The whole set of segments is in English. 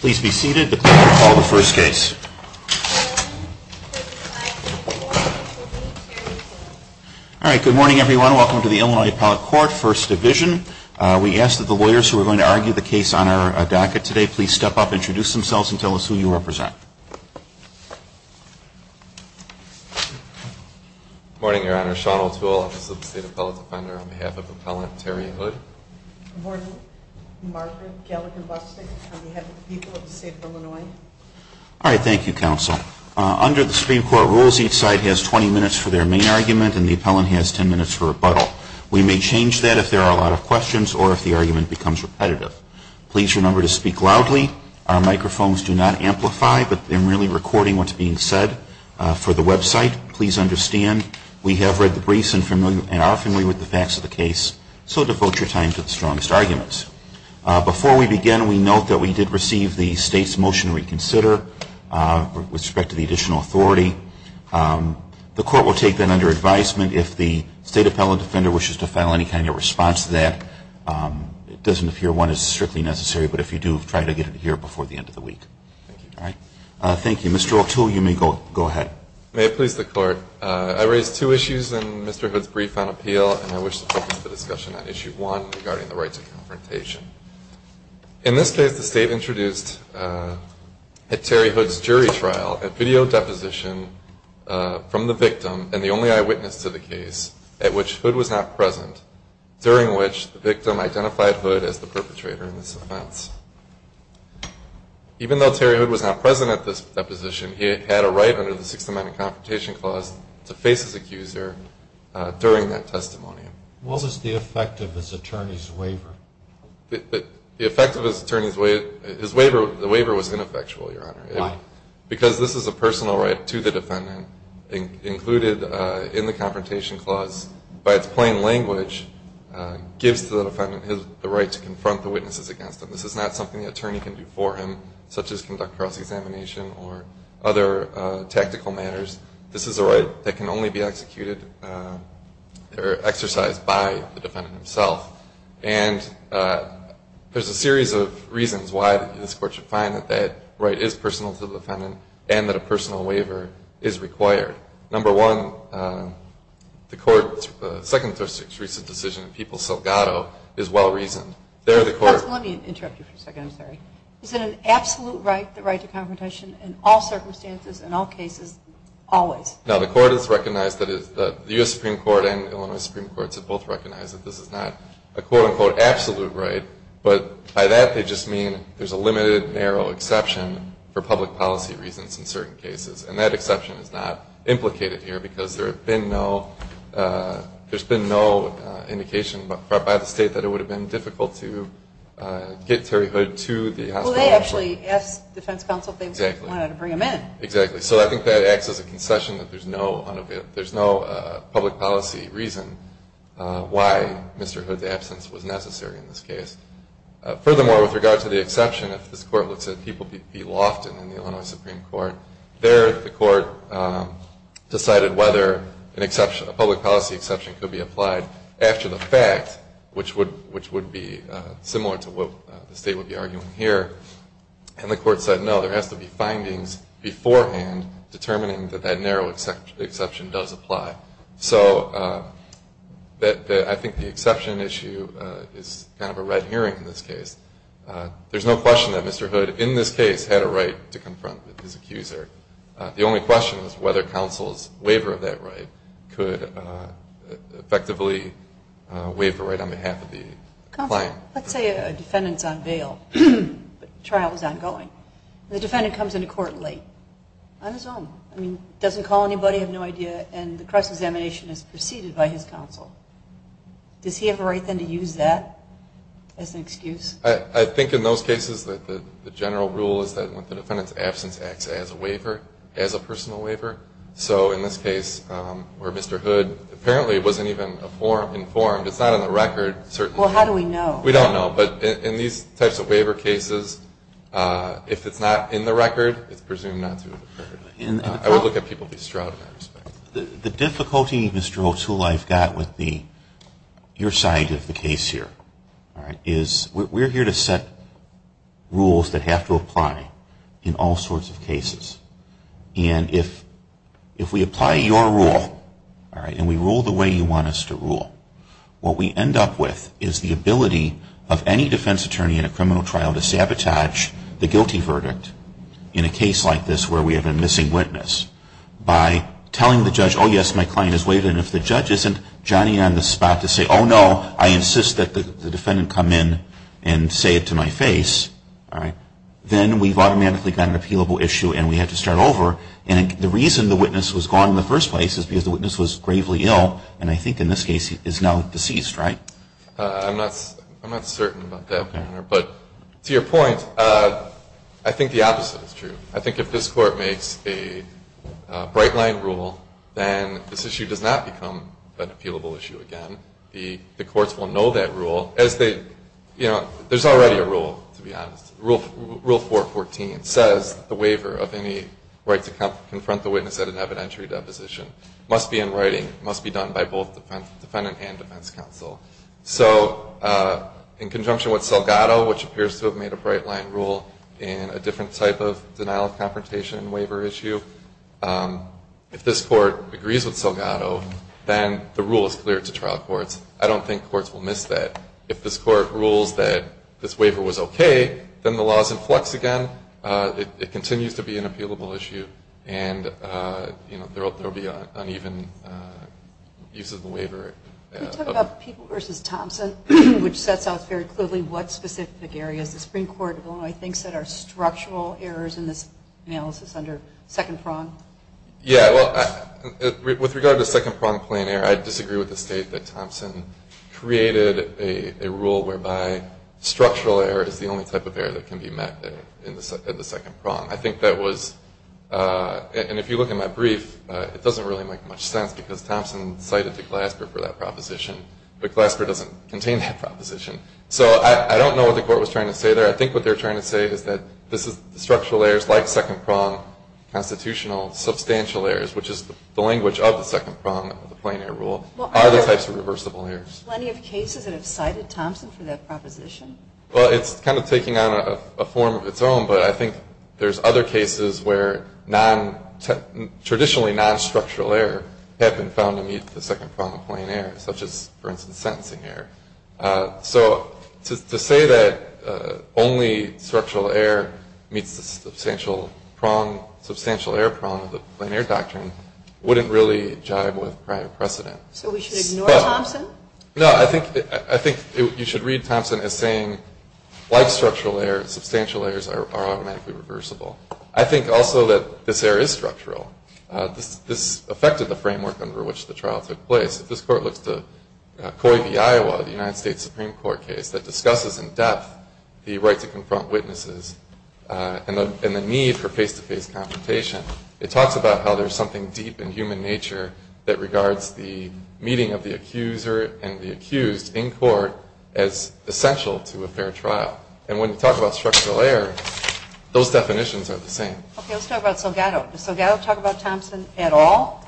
Please be seated. The court will call the first case. All right, good morning everyone. Welcome to the Illinois Appellate Court, First Division. We ask that the lawyers who are going to argue the case on our docket today please step up, introduce themselves, and tell us who you represent. Good morning, Your Honor. Sean O'Toole, Office of the State Appellate Defender, on behalf of Appellant Terry Hood. Good morning. Margaret Gallagher Bustick, on behalf of the people of the state of Illinois. All right, thank you, Counsel. Under the Supreme Court rules, each side has 20 minutes for their main argument and the appellant has 10 minutes for rebuttal. We may change that if there are a lot of questions or if the argument becomes repetitive. Please remember to speak loudly. Our microphones do not amplify, but I'm merely recording what's being said. For the website, please understand we have read the briefs and are familiar with the facts of the case, so devote your time to the strongest arguments. Before we begin, we note that we did receive the state's motion to reconsider with respect to the additional authority. The court will take that under advisement. If the State Appellate Defender wishes to file any kind of response to that, it doesn't appear one is strictly necessary, but if you do, try to get it here before the end of the week. All right. Thank you. Mr. O'Toole, you may go ahead. May it please the Court. I raise two issues in Mr. Hood's brief on appeal, and I wish to focus the discussion on Issue 1 regarding the rights of confrontation. In this case, the State introduced a Terry Hood's jury trial at video deposition from the victim and the only eyewitness to the case, at which Hood was not present, during which the victim identified Hood as the perpetrator in this offense. Even though Terry Hood was not present at this deposition, he had a right under the Sixth Amendment Confrontation Clause to face his accuser during that testimony. What was the effect of his attorney's waiver? The effect of his attorney's waiver, his waiver, the waiver was ineffectual, Your Honor. Why? Because this is a personal right to the defendant included in the Confrontation Clause. By its plain language, it gives the defendant the right to confront the witnesses against him. This is not something the attorney can do for him, such as conduct cross-examination or other tactical matters. This is a right that can only be executed or exercised by the defendant himself. And there's a series of reasons why this Court should find that that right is personal to the defendant and that a personal waiver is required. Number one, the Court's second most recent decision in Peoples-Selgado is well-reasoned. Let me interrupt you for a second, I'm sorry. Is it an absolute right, the right to confrontation, in all circumstances, in all cases, always? No, the Court has recognized that the U.S. Supreme Court and Illinois Supreme Court have both recognized that this is not a quote-unquote absolute right, but by that they just mean there's a limited, narrow exception for public policy reasons in certain cases. And that exception is not implicated here because there's been no indication by the state that it would have been difficult to get Terry Hood to the hospital. Well, they actually asked the defense counsel if they wanted to bring him in. Exactly. So I think that acts as a concession that there's no public policy reason why Mr. Hood's absence was necessary in this case. Furthermore, with regard to the exception, if this Court looks at Peoples v. Lofton in the Illinois Supreme Court, there the Court decided whether a public policy exception could be applied after the fact, which would be similar to what the state would be arguing here. And the Court said, no, there has to be findings beforehand determining that that narrow exception does apply. So I think the exception issue is kind of a red herring in this case. There's no question that Mr. Hood in this case had a right to confront his accuser. The only question was whether counsel's waiver of that right could effectively waive the right on behalf of the client. Counsel, let's say a defendant's on bail, but the trial is ongoing. The defendant comes into court late on his own. I mean, doesn't call anybody, have no idea, and the cross-examination is preceded by his counsel. Does he have a right then to use that as an excuse? I think in those cases that the general rule is that when the defendant's absence acts as a waiver, as a personal waiver. So in this case where Mr. Hood apparently wasn't even informed, it's not on the record. Well, how do we know? We don't know. But in these types of waiver cases, if it's not in the record, it's presumed not to have occurred. I would look at people to be shrouded in that respect. The difficulty, Mr. O'Toole, I've got with your side of the case here is we're here to set rules that have to apply in all sorts of cases. And if we apply your rule, and we rule the way you want us to rule, what we end up with is the ability of any defense attorney in a criminal trial to sabotage the guilty verdict in a case like this where we have a missing witness by telling the judge, oh, yes, my client is waived. And if the judge isn't jotting on the spot to say, oh, no, I insist that the defendant come in and say it to my face, then we've automatically got an appealable issue, and we have to start over. And the reason the witness was gone in the first place is because the witness was gravely ill, and I think in this case is now deceased, right? I'm not certain about that, but to your point, I think the opposite is true. I think if this Court makes a bright-line rule, then this issue does not become an appealable issue again. The courts will know that rule as they, you know, there's already a rule, to be honest. Rule 414 says the waiver of any right to confront the witness at an evidentiary deposition must be in writing, must be done by both defendant and defense counsel. So in conjunction with Salgado, which appears to have made a bright-line rule in a different type of denial of confrontation waiver issue, if this Court agrees with Salgado, then the rule is clear to trial courts. I don't think courts will miss that. If this Court rules that this waiver was okay, then the law is in flux again. It continues to be an appealable issue, and, you know, there will be uneven use of the waiver. Can we talk about People v. Thompson, which sets out very clearly what specific areas the Supreme Court, I think, said are structural errors in this analysis under second prong? Yeah, well, with regard to second prong plain error, I disagree with the state that Thompson created a rule whereby structural error is the only type of error that can be met at the second prong. I think that was, and if you look at my brief, it doesn't really make much sense because Thompson cited the Glasper for that proposition, but Glasper doesn't contain that proposition. So I don't know what the Court was trying to say there. I think what they're trying to say is that structural errors like second prong constitutional substantial errors, which is the language of the second prong of the plain error rule, are the types of reversible errors. Are there plenty of cases that have cited Thompson for that proposition? Well, it's kind of taking on a form of its own, but I think there's other cases where traditionally non-structural error have been found to meet the second prong of plain error, such as, for instance, sentencing error. So to say that only structural error meets the substantial prong, substantial error prong of the plain error doctrine, wouldn't really jive with prior precedent. So we should ignore Thompson? No, I think you should read Thompson as saying like structural error, substantial errors are automatically reversible. I think also that this error is structural. This affected the framework under which the trial took place. This Court looks to COI v. Iowa, the United States Supreme Court case, that discusses in depth the right to confront witnesses and the need for face-to-face confrontation. It talks about how there's something deep in human nature that regards the meeting of the accuser and the accused in court as essential to a fair trial. And when you talk about structural error, those definitions are the same. Okay, let's talk about Salgado. Does Salgado talk about Thompson at all?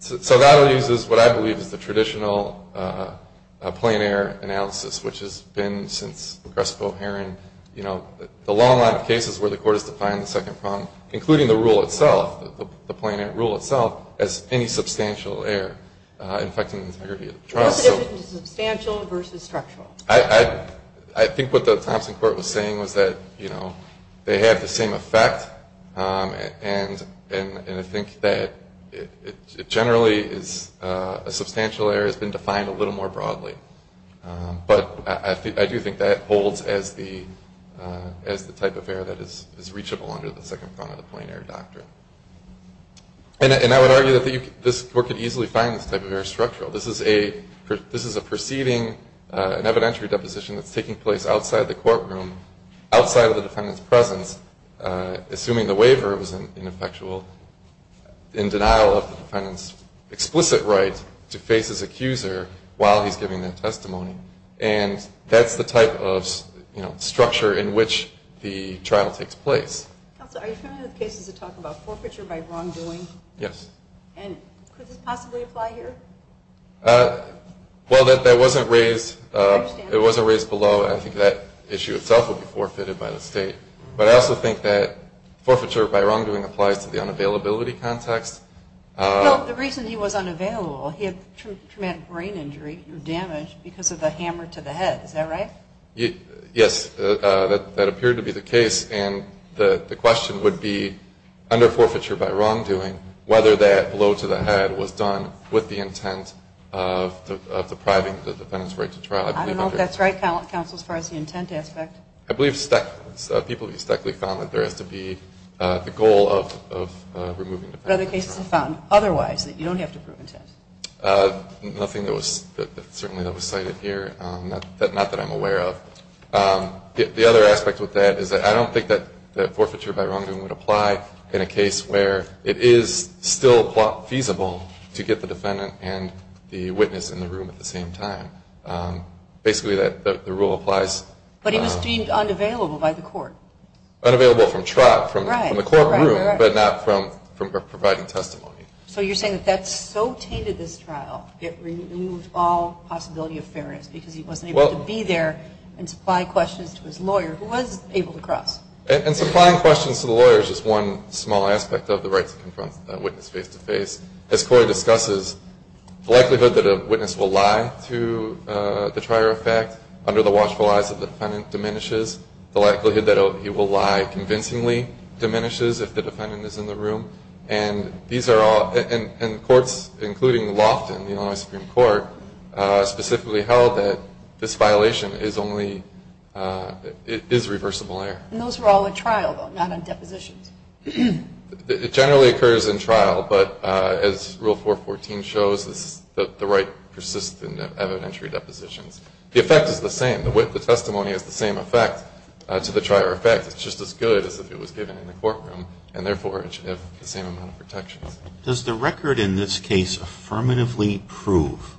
Salgado uses what I believe is the traditional plain error analysis, which has been since Progressive O'Haran, you know, the long line of cases where the Court has defined the second prong, including the rule itself, the plain error rule itself, as any substantial error affecting the integrity of the trial. What's the difference between substantial versus structural? I think what the Thompson Court was saying was that, you know, they have the same effect. And I think that it generally is a substantial error has been defined a little more broadly. But I do think that holds as the type of error that is reachable under the second prong of the plain error doctrine. And I would argue that this Court could easily find this type of error structural. This is a proceeding, an evidentiary deposition that's taking place outside the courtroom, outside of the defendant's presence, assuming the waiver was ineffectual, in denial of the defendant's explicit right to face his accuser while he's giving that testimony. And that's the type of, you know, structure in which the trial takes place. Counsel, are you familiar with cases that talk about forfeiture by wrongdoing? Yes. And could this possibly apply here? Well, that wasn't raised. I understand. It wasn't raised below. I think that issue itself would be forfeited by the State. But I also think that forfeiture by wrongdoing applies to the unavailability context. Well, the reason he was unavailable, he had traumatic brain injury or damage because of the hammer to the head. Is that right? Yes. That appeared to be the case. And the question would be, under forfeiture by wrongdoing, whether that blow to the head was done with the intent of depriving the defendant's right to trial. I don't know if that's right, Counsel, as far as the intent aspect. I believe Steckley, people at Steckley found that there has to be the goal of removing the defendant. But other cases have found otherwise, that you don't have to prove intent. Nothing that was certainly cited here, not that I'm aware of. The other aspect with that is that I don't think that forfeiture by wrongdoing would apply in a case where it is still feasible to get the defendant and the witness in the room at the same time. Basically, the rule applies. But he was deemed unavailable by the court. Unavailable from trial, from the courtroom, but not from providing testimony. So you're saying that that so tainted this trial, it removed all possibility of fairness because he wasn't able to be there and supply questions to his lawyer, who was able to cross. And supplying questions to the lawyer is just one small aspect of the right to confront a witness face-to-face. As Corey discusses, the likelihood that a witness will lie to the trier of fact, under the watchful eyes of the defendant, diminishes. The likelihood that he will lie convincingly diminishes if the defendant is in the room. And courts, including Lofton, the Illinois Supreme Court, specifically held that this violation is reversible error. And those were all at trial, though, not on depositions. It generally occurs in trial. But as Rule 414 shows, the right persists in evidentiary depositions. The effect is the same. The testimony has the same effect to the trier of fact. It's just as good as if it was given in the courtroom. And therefore, it should have the same amount of protections. Does the record in this case affirmatively prove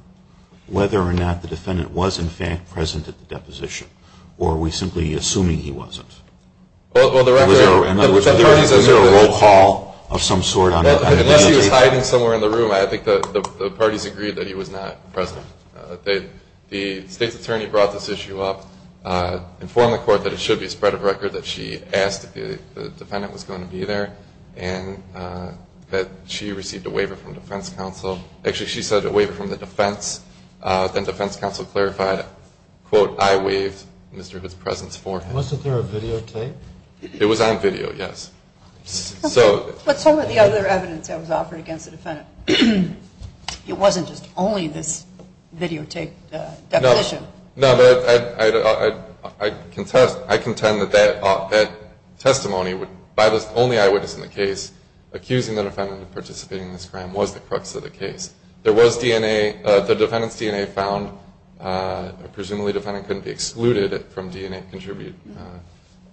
whether or not the defendant was, in fact, present at the deposition? Or are we simply assuming he wasn't? Was there a roll call of some sort? Unless he was hiding somewhere in the room, I think the parties agreed that he was not present. The state's attorney brought this issue up, informed the court that it should be a spread of record that she asked if the defendant was going to be there, and that she received a waiver from defense counsel. Actually, she said a waiver from the defense. Then defense counsel clarified, quote, I waived Mr. Hitt's presence for him. Wasn't there a videotape? It was on video, yes. What's some of the other evidence that was offered against the defendant? It wasn't just only this videotape deposition. No, but I contend that that testimony, by the only eyewitness in the case, accusing the defendant of participating in this crime was the crux of the case. There was DNA. The defendant's DNA found. Presumably the defendant couldn't be excluded from DNA and contribute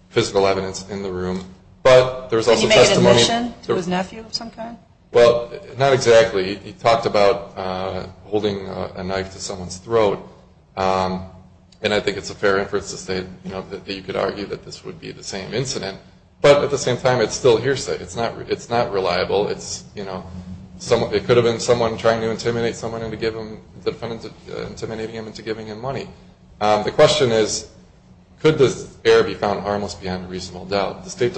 physical evidence in the room. But there was also testimony. Did he make admission to his nephew of some kind? Well, not exactly. He talked about holding a knife to someone's throat. And I think it's a fair inference to say that you could argue that this would be the same incident. But at the same time, it's still hearsay. It's not reliable. It could have been someone trying to intimidate someone into giving him money. The question is, could this error be found harmless beyond a reasonable doubt? The state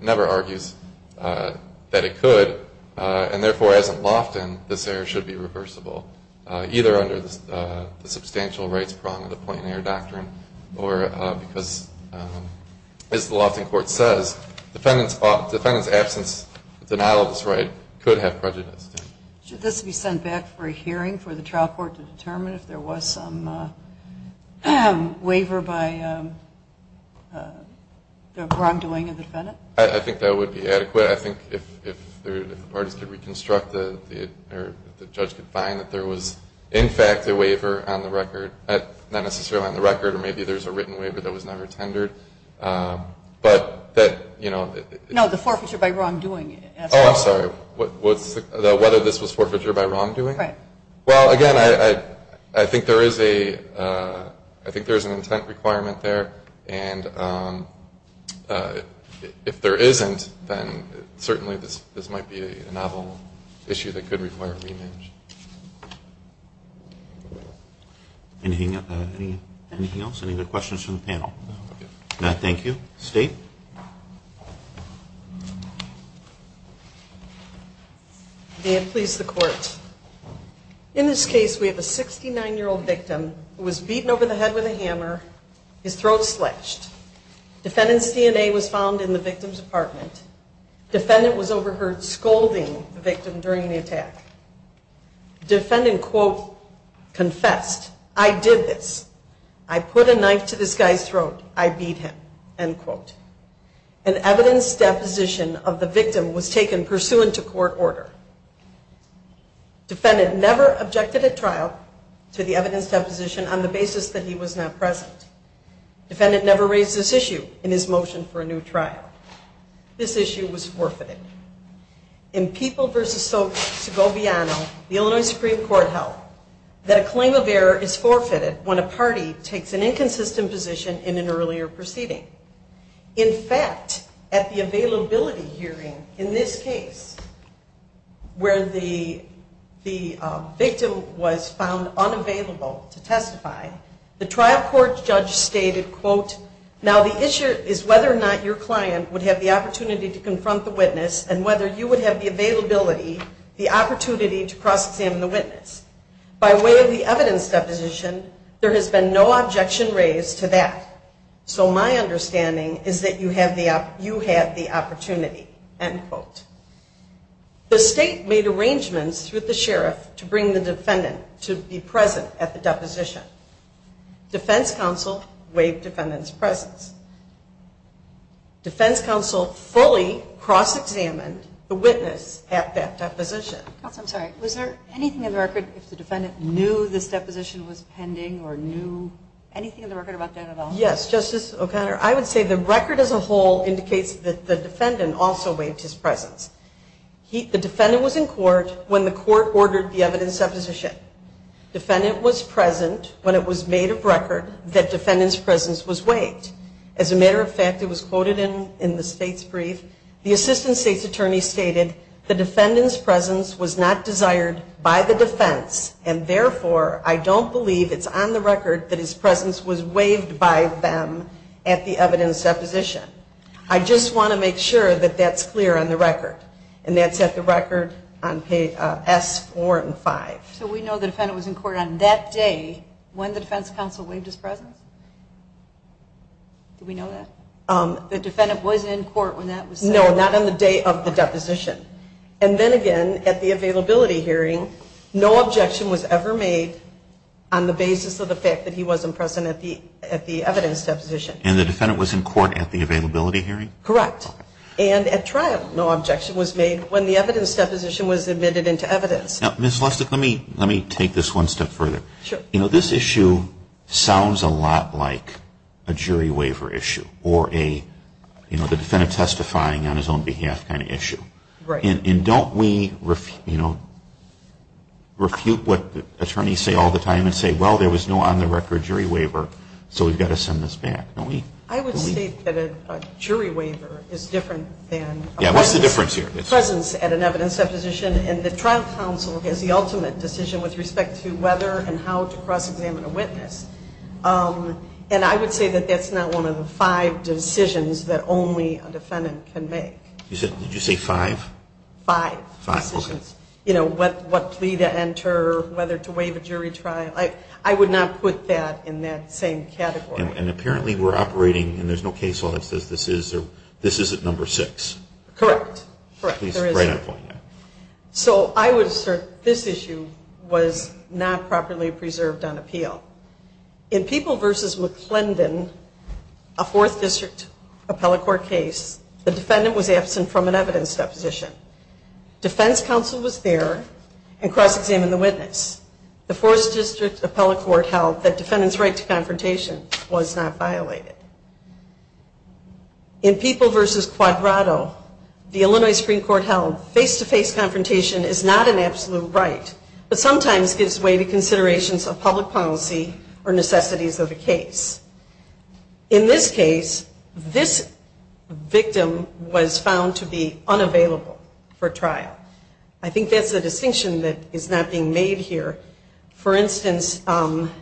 never argues that it could. And, therefore, as in Lofton, this error should be reversible, either under the substantial rights prong of the Point and Error Doctrine or because, as the Lofton Court says, the defendant's absence denial of this right could have prejudiced him. Should this be sent back for a hearing for the trial court to determine if there was some waiver by the wrongdoing of the defendant? I think that would be adequate. I think if the parties could reconstruct or the judge could find that there was, in fact, a waiver on the record, not necessarily on the record, or maybe there's a written waiver that was never tendered, but that, you know. No, the forfeiture by wrongdoing. Oh, I'm sorry. Whether this was forfeiture by wrongdoing? Right. Well, again, I think there is an intent requirement there. And if there isn't, then certainly this might be a novel issue that could require a rematch. Anything else? Any other questions from the panel? No. Thank you. State? May it please the Court, in this case we have a 69-year-old victim who was beaten over the head with a hammer, his throat slashed. Defendant's DNA was found in the victim's apartment. Defendant was overheard scolding the victim during the attack. Defendant, quote, confessed, I did this. I put a knife to this guy's throat. I beat him, end quote. An evidence deposition of the victim was taken pursuant to court order. Defendant never objected at trial to the evidence deposition on the basis that he was not present. Defendant never raised this issue in his motion for a new trial. This issue was forfeited. In People v. Soap, Segoviano, the Illinois Supreme Court held that a claim of error is forfeited when a party takes an inconsistent position in an earlier proceeding. In fact, at the availability hearing in this case, where the victim was found unavailable to testify, the trial court judge stated, quote, now the issue is whether or not your client would have the opportunity to confront the witness and whether you would have the availability, the opportunity to cross-examine the witness. By way of the evidence deposition, there has been no objection raised to that. So my understanding is that you have the opportunity, end quote. The state made arrangements with the sheriff to bring the defendant to be present at the deposition. Defense counsel waived defendant's presence. Defense counsel fully cross-examined the witness at that deposition. Counsel, I'm sorry. Was there anything in the record if the defendant knew this deposition was pending or knew anything in the record about that at all? Yes, Justice O'Connor. I would say the record as a whole indicates that the defendant also waived his presence. The defendant was in court when the court ordered the evidence deposition. Defendant was present when it was made of record that defendant's presence was waived. As a matter of fact, it was quoted in the state's brief. The assistant state's attorney stated, the defendant's presence was not desired by the defense and therefore I don't believe it's on the record that his presence was waived by them at the evidence deposition. I just want to make sure that that's clear on the record. And that's at the record on S4 and 5. So we know the defendant was in court on that day when the defense counsel waived his presence? Do we know that? The defendant was in court when that was said? No, not on the day of the deposition. And then again, at the availability hearing, no objection was ever made on the basis of the fact that he wasn't present at the evidence deposition. And the defendant was in court at the availability hearing? Correct. And at trial, no objection was made when the evidence deposition was admitted into evidence. Now, Ms. Lustig, let me take this one step further. Sure. You know, this issue sounds a lot like a jury waiver issue or a, you know, the defendant testifying on his own behalf kind of issue. Right. And don't we, you know, refute what attorneys say all the time and say, well, there was no on-the-record jury waiver, so we've got to send this back. Don't we? I would state that a jury waiver is different than a presence at an evidence deposition. And the trial counsel has the ultimate decision with respect to whether and how to cross-examine a witness. And I would say that that's not one of the five decisions that only a defendant can make. Did you say five? Five. Five, okay. You know, what plea to enter, whether to waive a jury trial. I would not put that in that same category. And apparently we're operating, and there's no case law that says this is at number six. Correct. Please, right on point. So I would assert this issue was not properly preserved on appeal. In People v. McClendon, a Fourth District appellate court case, the defendant was absent from an evidence deposition. Defense counsel was there and cross-examined the witness. The Fourth District appellate court held that defendant's right to confrontation was not violated. In People v. Quadrato, the Illinois Supreme Court held face-to-face confrontation is not an absolute right, but sometimes gives way to considerations of public policy or necessities of the case. In this case, this victim was found to be unavailable for trial. I think that's the distinction that is not being made here. For instance, the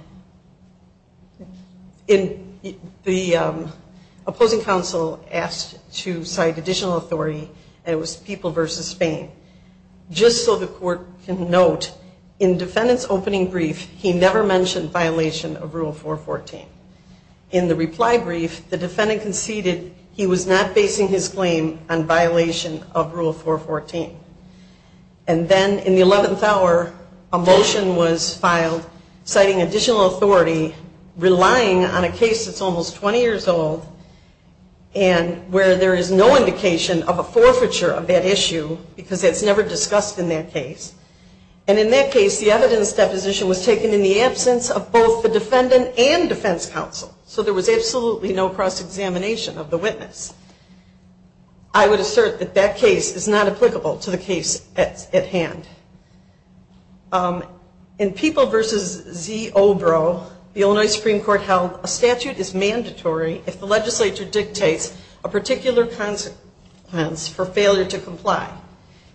opposing counsel asked to cite additional authority, and it was People v. Spain. Just so the court can note, in defendant's opening brief, he never mentioned violation of Rule 414. In the reply brief, the defendant conceded he was not basing his claim on violation of Rule 414. And then in the 11th hour, a motion was filed citing additional authority, relying on a case that's almost 20 years old, and where there is no indication of a forfeiture of that issue because it's never discussed in that case. And in that case, the evidence deposition was taken in the absence of both the defendant and defense counsel. So there was absolutely no cross-examination of the witness. I would assert that that case is not applicable to the case at hand. In People v. Z. Obrow, the Illinois Supreme Court held a statute is mandatory if the legislature dictates a particular consequence for failure to comply.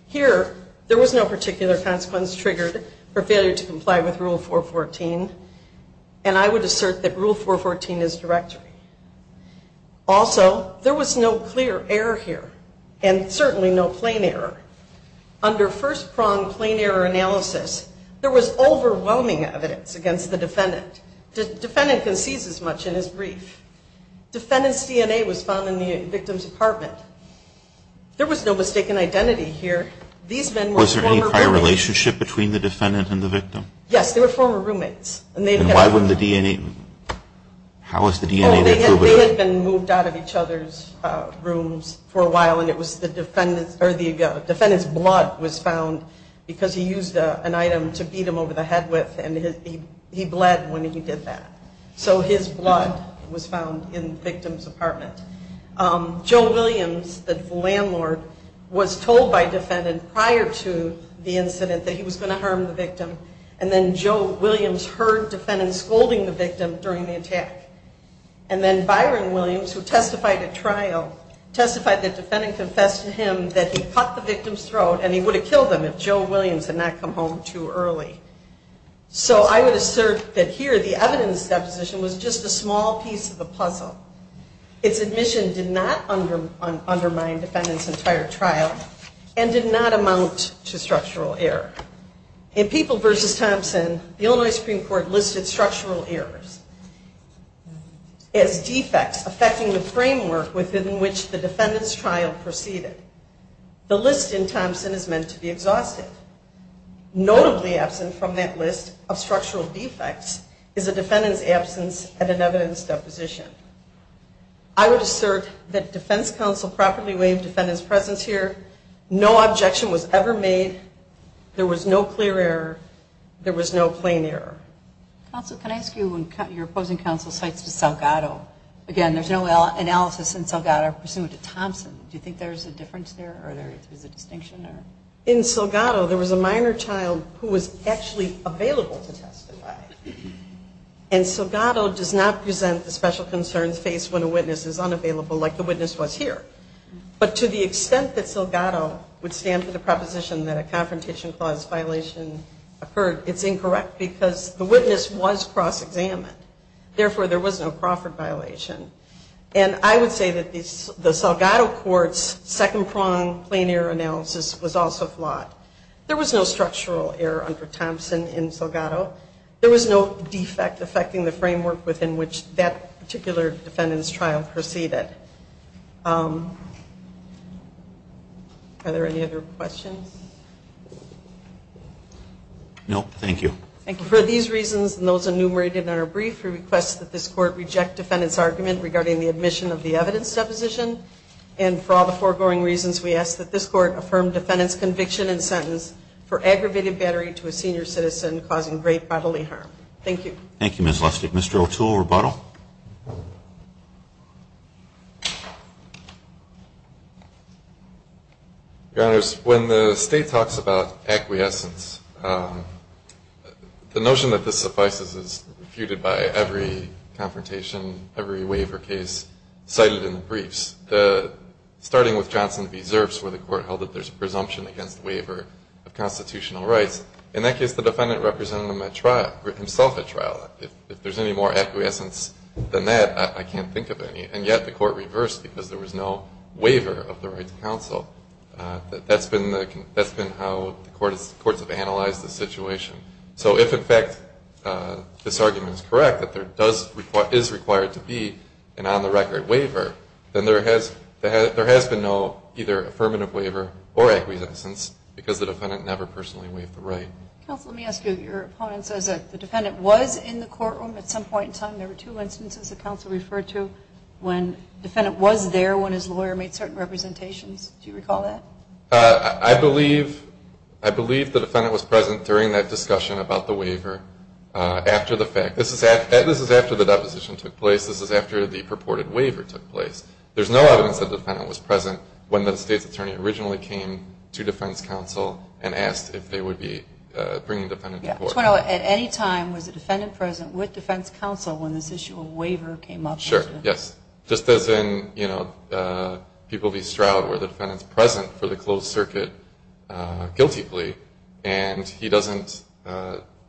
Here, there was no particular consequence triggered for failure to comply with Rule 414, and I would assert that Rule 414 is directory. Also, there was no clear error here, and certainly no plain error. Under first-pronged plain error analysis, there was overwhelming evidence against the defendant. The defendant concedes as much in his brief. Defendant's DNA was found in the victim's apartment. There was no mistaken identity here. These men were former roommates. Was there any prior relationship between the defendant and the victim? Yes, they were former roommates. And why wouldn't the DNA? How is the DNA attributable? They had been moved out of each other's rooms for a while, and it was the defendant's blood was found because he used an item to beat him over the head with, and he bled when he did that. So his blood was found in the victim's apartment. Joe Williams, the landlord, was told by a defendant prior to the incident that he was going to harm the victim, and then Joe Williams heard defendant scolding the victim during the attack. And then Byron Williams, who testified at trial, testified that defendant confessed to him that he cut the victim's throat and he would have killed him if Joe Williams had not come home too early. So I would assert that here the evidence deposition was just a small piece of the puzzle. Its admission did not undermine defendant's entire trial and did not amount to structural error. In People v. Thompson, the Illinois Supreme Court listed structural errors as defects affecting the framework within which the defendant's trial proceeded. The list in Thompson is meant to be exhausted. Notably absent from that list of structural defects is a defendant's absence at an evidence deposition. I would assert that defense counsel properly weighed defendant's presence here. No objection was ever made. There was no clear error. There was no plain error. Counsel, can I ask you, when your opposing counsel cites the Salgado, again, there's no analysis in Salgado pursuant to Thompson. Do you think there's a difference there or there's a distinction? In Salgado, there was a minor child who was actually available to testify. And Salgado does not present the special concerns faced when a witness is unavailable like the witness was here. But to the extent that Salgado would stand for the proposition that a confrontation clause violation occurred, it's incorrect because the witness was cross-examined. Therefore, there was no Crawford violation. And I would say that the Salgado court's second-prong plain error analysis was also flawed. There was no defect affecting the framework within which that particular defendant's trial proceeded. Are there any other questions? No, thank you. Thank you. For these reasons and those enumerated in our brief, we request that this court reject defendant's argument regarding the admission of the evidence deposition. And for all the foregoing reasons, we ask that this court affirm defendant's conviction and sentence for aggravated battery to a senior citizen causing great bodily harm. Thank you. Thank you, Ms. Lustig. Mr. O'Toole, rebuttal. Your Honors, when the State talks about acquiescence, the notion that this suffices is refuted by every confrontation, every waiver case cited in the briefs. Starting with Johnson v. Zerfs where the court held that there's a presumption against waiver of constitutional rights, in that case the defendant represented himself at trial. If there's any more acquiescence than that, I can't think of any. And yet the court reversed because there was no waiver of the right to counsel. That's been how the courts have analyzed the situation. So if, in fact, this argument is correct, that there is required to be an on-the-record waiver, then there has been no either affirmative waiver or acquiescence because the defendant never personally waived the right. Counsel, let me ask you. Your opponent says that the defendant was in the courtroom at some point in time. There were two instances that counsel referred to when the defendant was there when his lawyer made certain representations. Do you recall that? I believe the defendant was present during that discussion about the waiver after the fact. This is after the deposition took place. This is after the purported waiver took place. There's no evidence that the defendant was present when the state's attorney originally came to defense counsel and asked if they would be bringing the defendant to court. At any time was the defendant present with defense counsel when this issue of waiver came up? Sure, yes. Just as in People v. Stroud where the defendant's present for the closed circuit guilty plea and he doesn't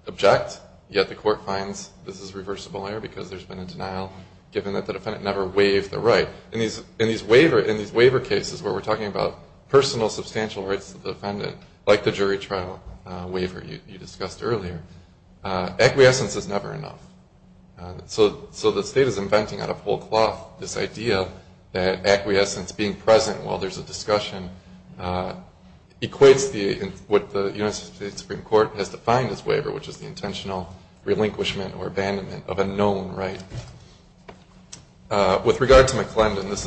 object, yet the court finds this is reversible error because there's been a denial given that the defendant never waived the right. In these waiver cases where we're talking about personal substantial rights to the defendant, like the jury trial waiver you discussed earlier, acquiescence is never enough. So the state is inventing out of whole cloth this idea that acquiescence, being present while there's a discussion, equates what the United States Supreme Court has defined as waiver, which is the intentional relinquishment or abandonment of a known right. With regard to McClendon, this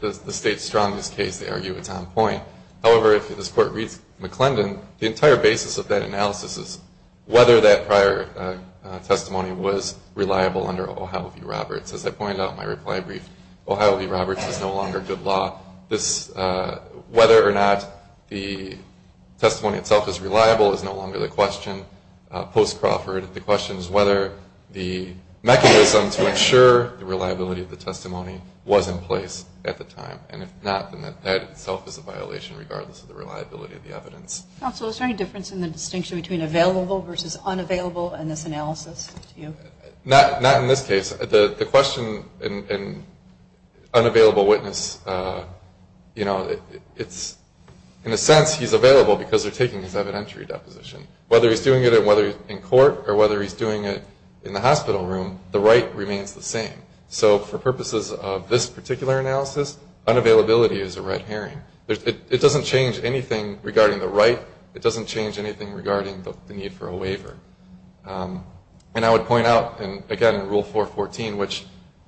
is the state's strongest case. They argue it's on point. However, if this court reads McClendon, the entire basis of that analysis is whether that prior testimony was reliable under Ohio v. Roberts. As I pointed out in my reply brief, Ohio v. Roberts is no longer good law. Whether or not the testimony itself is reliable is no longer the question. Post Crawford, the question is whether the mechanism to ensure the reliability of the testimony was in place at the time. And if not, then that itself is a violation regardless of the reliability of the evidence. Counsel, is there any difference in the distinction between available versus unavailable in this analysis? Not in this case. The question in unavailable witness, you know, it's in a sense he's available because they're taking his evidentiary deposition. Whether he's doing it in court or whether he's doing it in the hospital room, the right remains the same. So for purposes of this particular analysis, unavailability is a red herring. It doesn't change anything regarding the right. It doesn't change anything regarding the need for a waiver. And I would point out, again, in Rule 414, which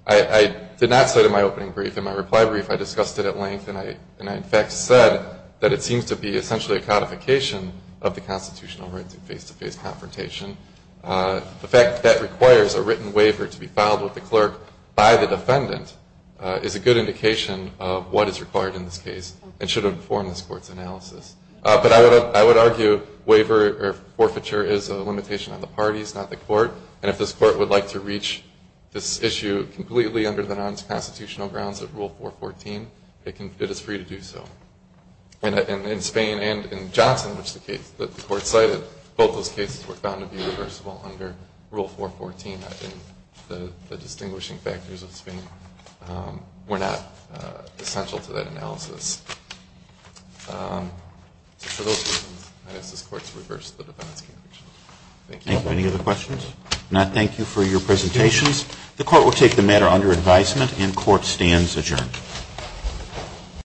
I did not say in my opening brief. In my reply brief, I discussed it at length, and I in fact said that it seems to be essentially a codification of the constitutional right to face-to-face confrontation. The fact that requires a written waiver to be filed with the clerk by the defendant is a good indication of what is required in this case and should inform this Court's analysis. But I would argue waiver or forfeiture is a limitation on the parties, not the Court. And if this Court would like to reach this issue completely under the non-constitutional grounds of Rule 414, it is free to do so. In Spain and in Johnson, which the Court cited, both those cases were found to be reversible under Rule 414. I think the distinguishing factors of Spain were not essential to that analysis. So for those reasons, I ask this Court to reverse the defendant's conviction. Thank you. Thank you. Any other questions? If not, thank you for your presentations. The Court will take the matter under advisement, and court stands adjourned.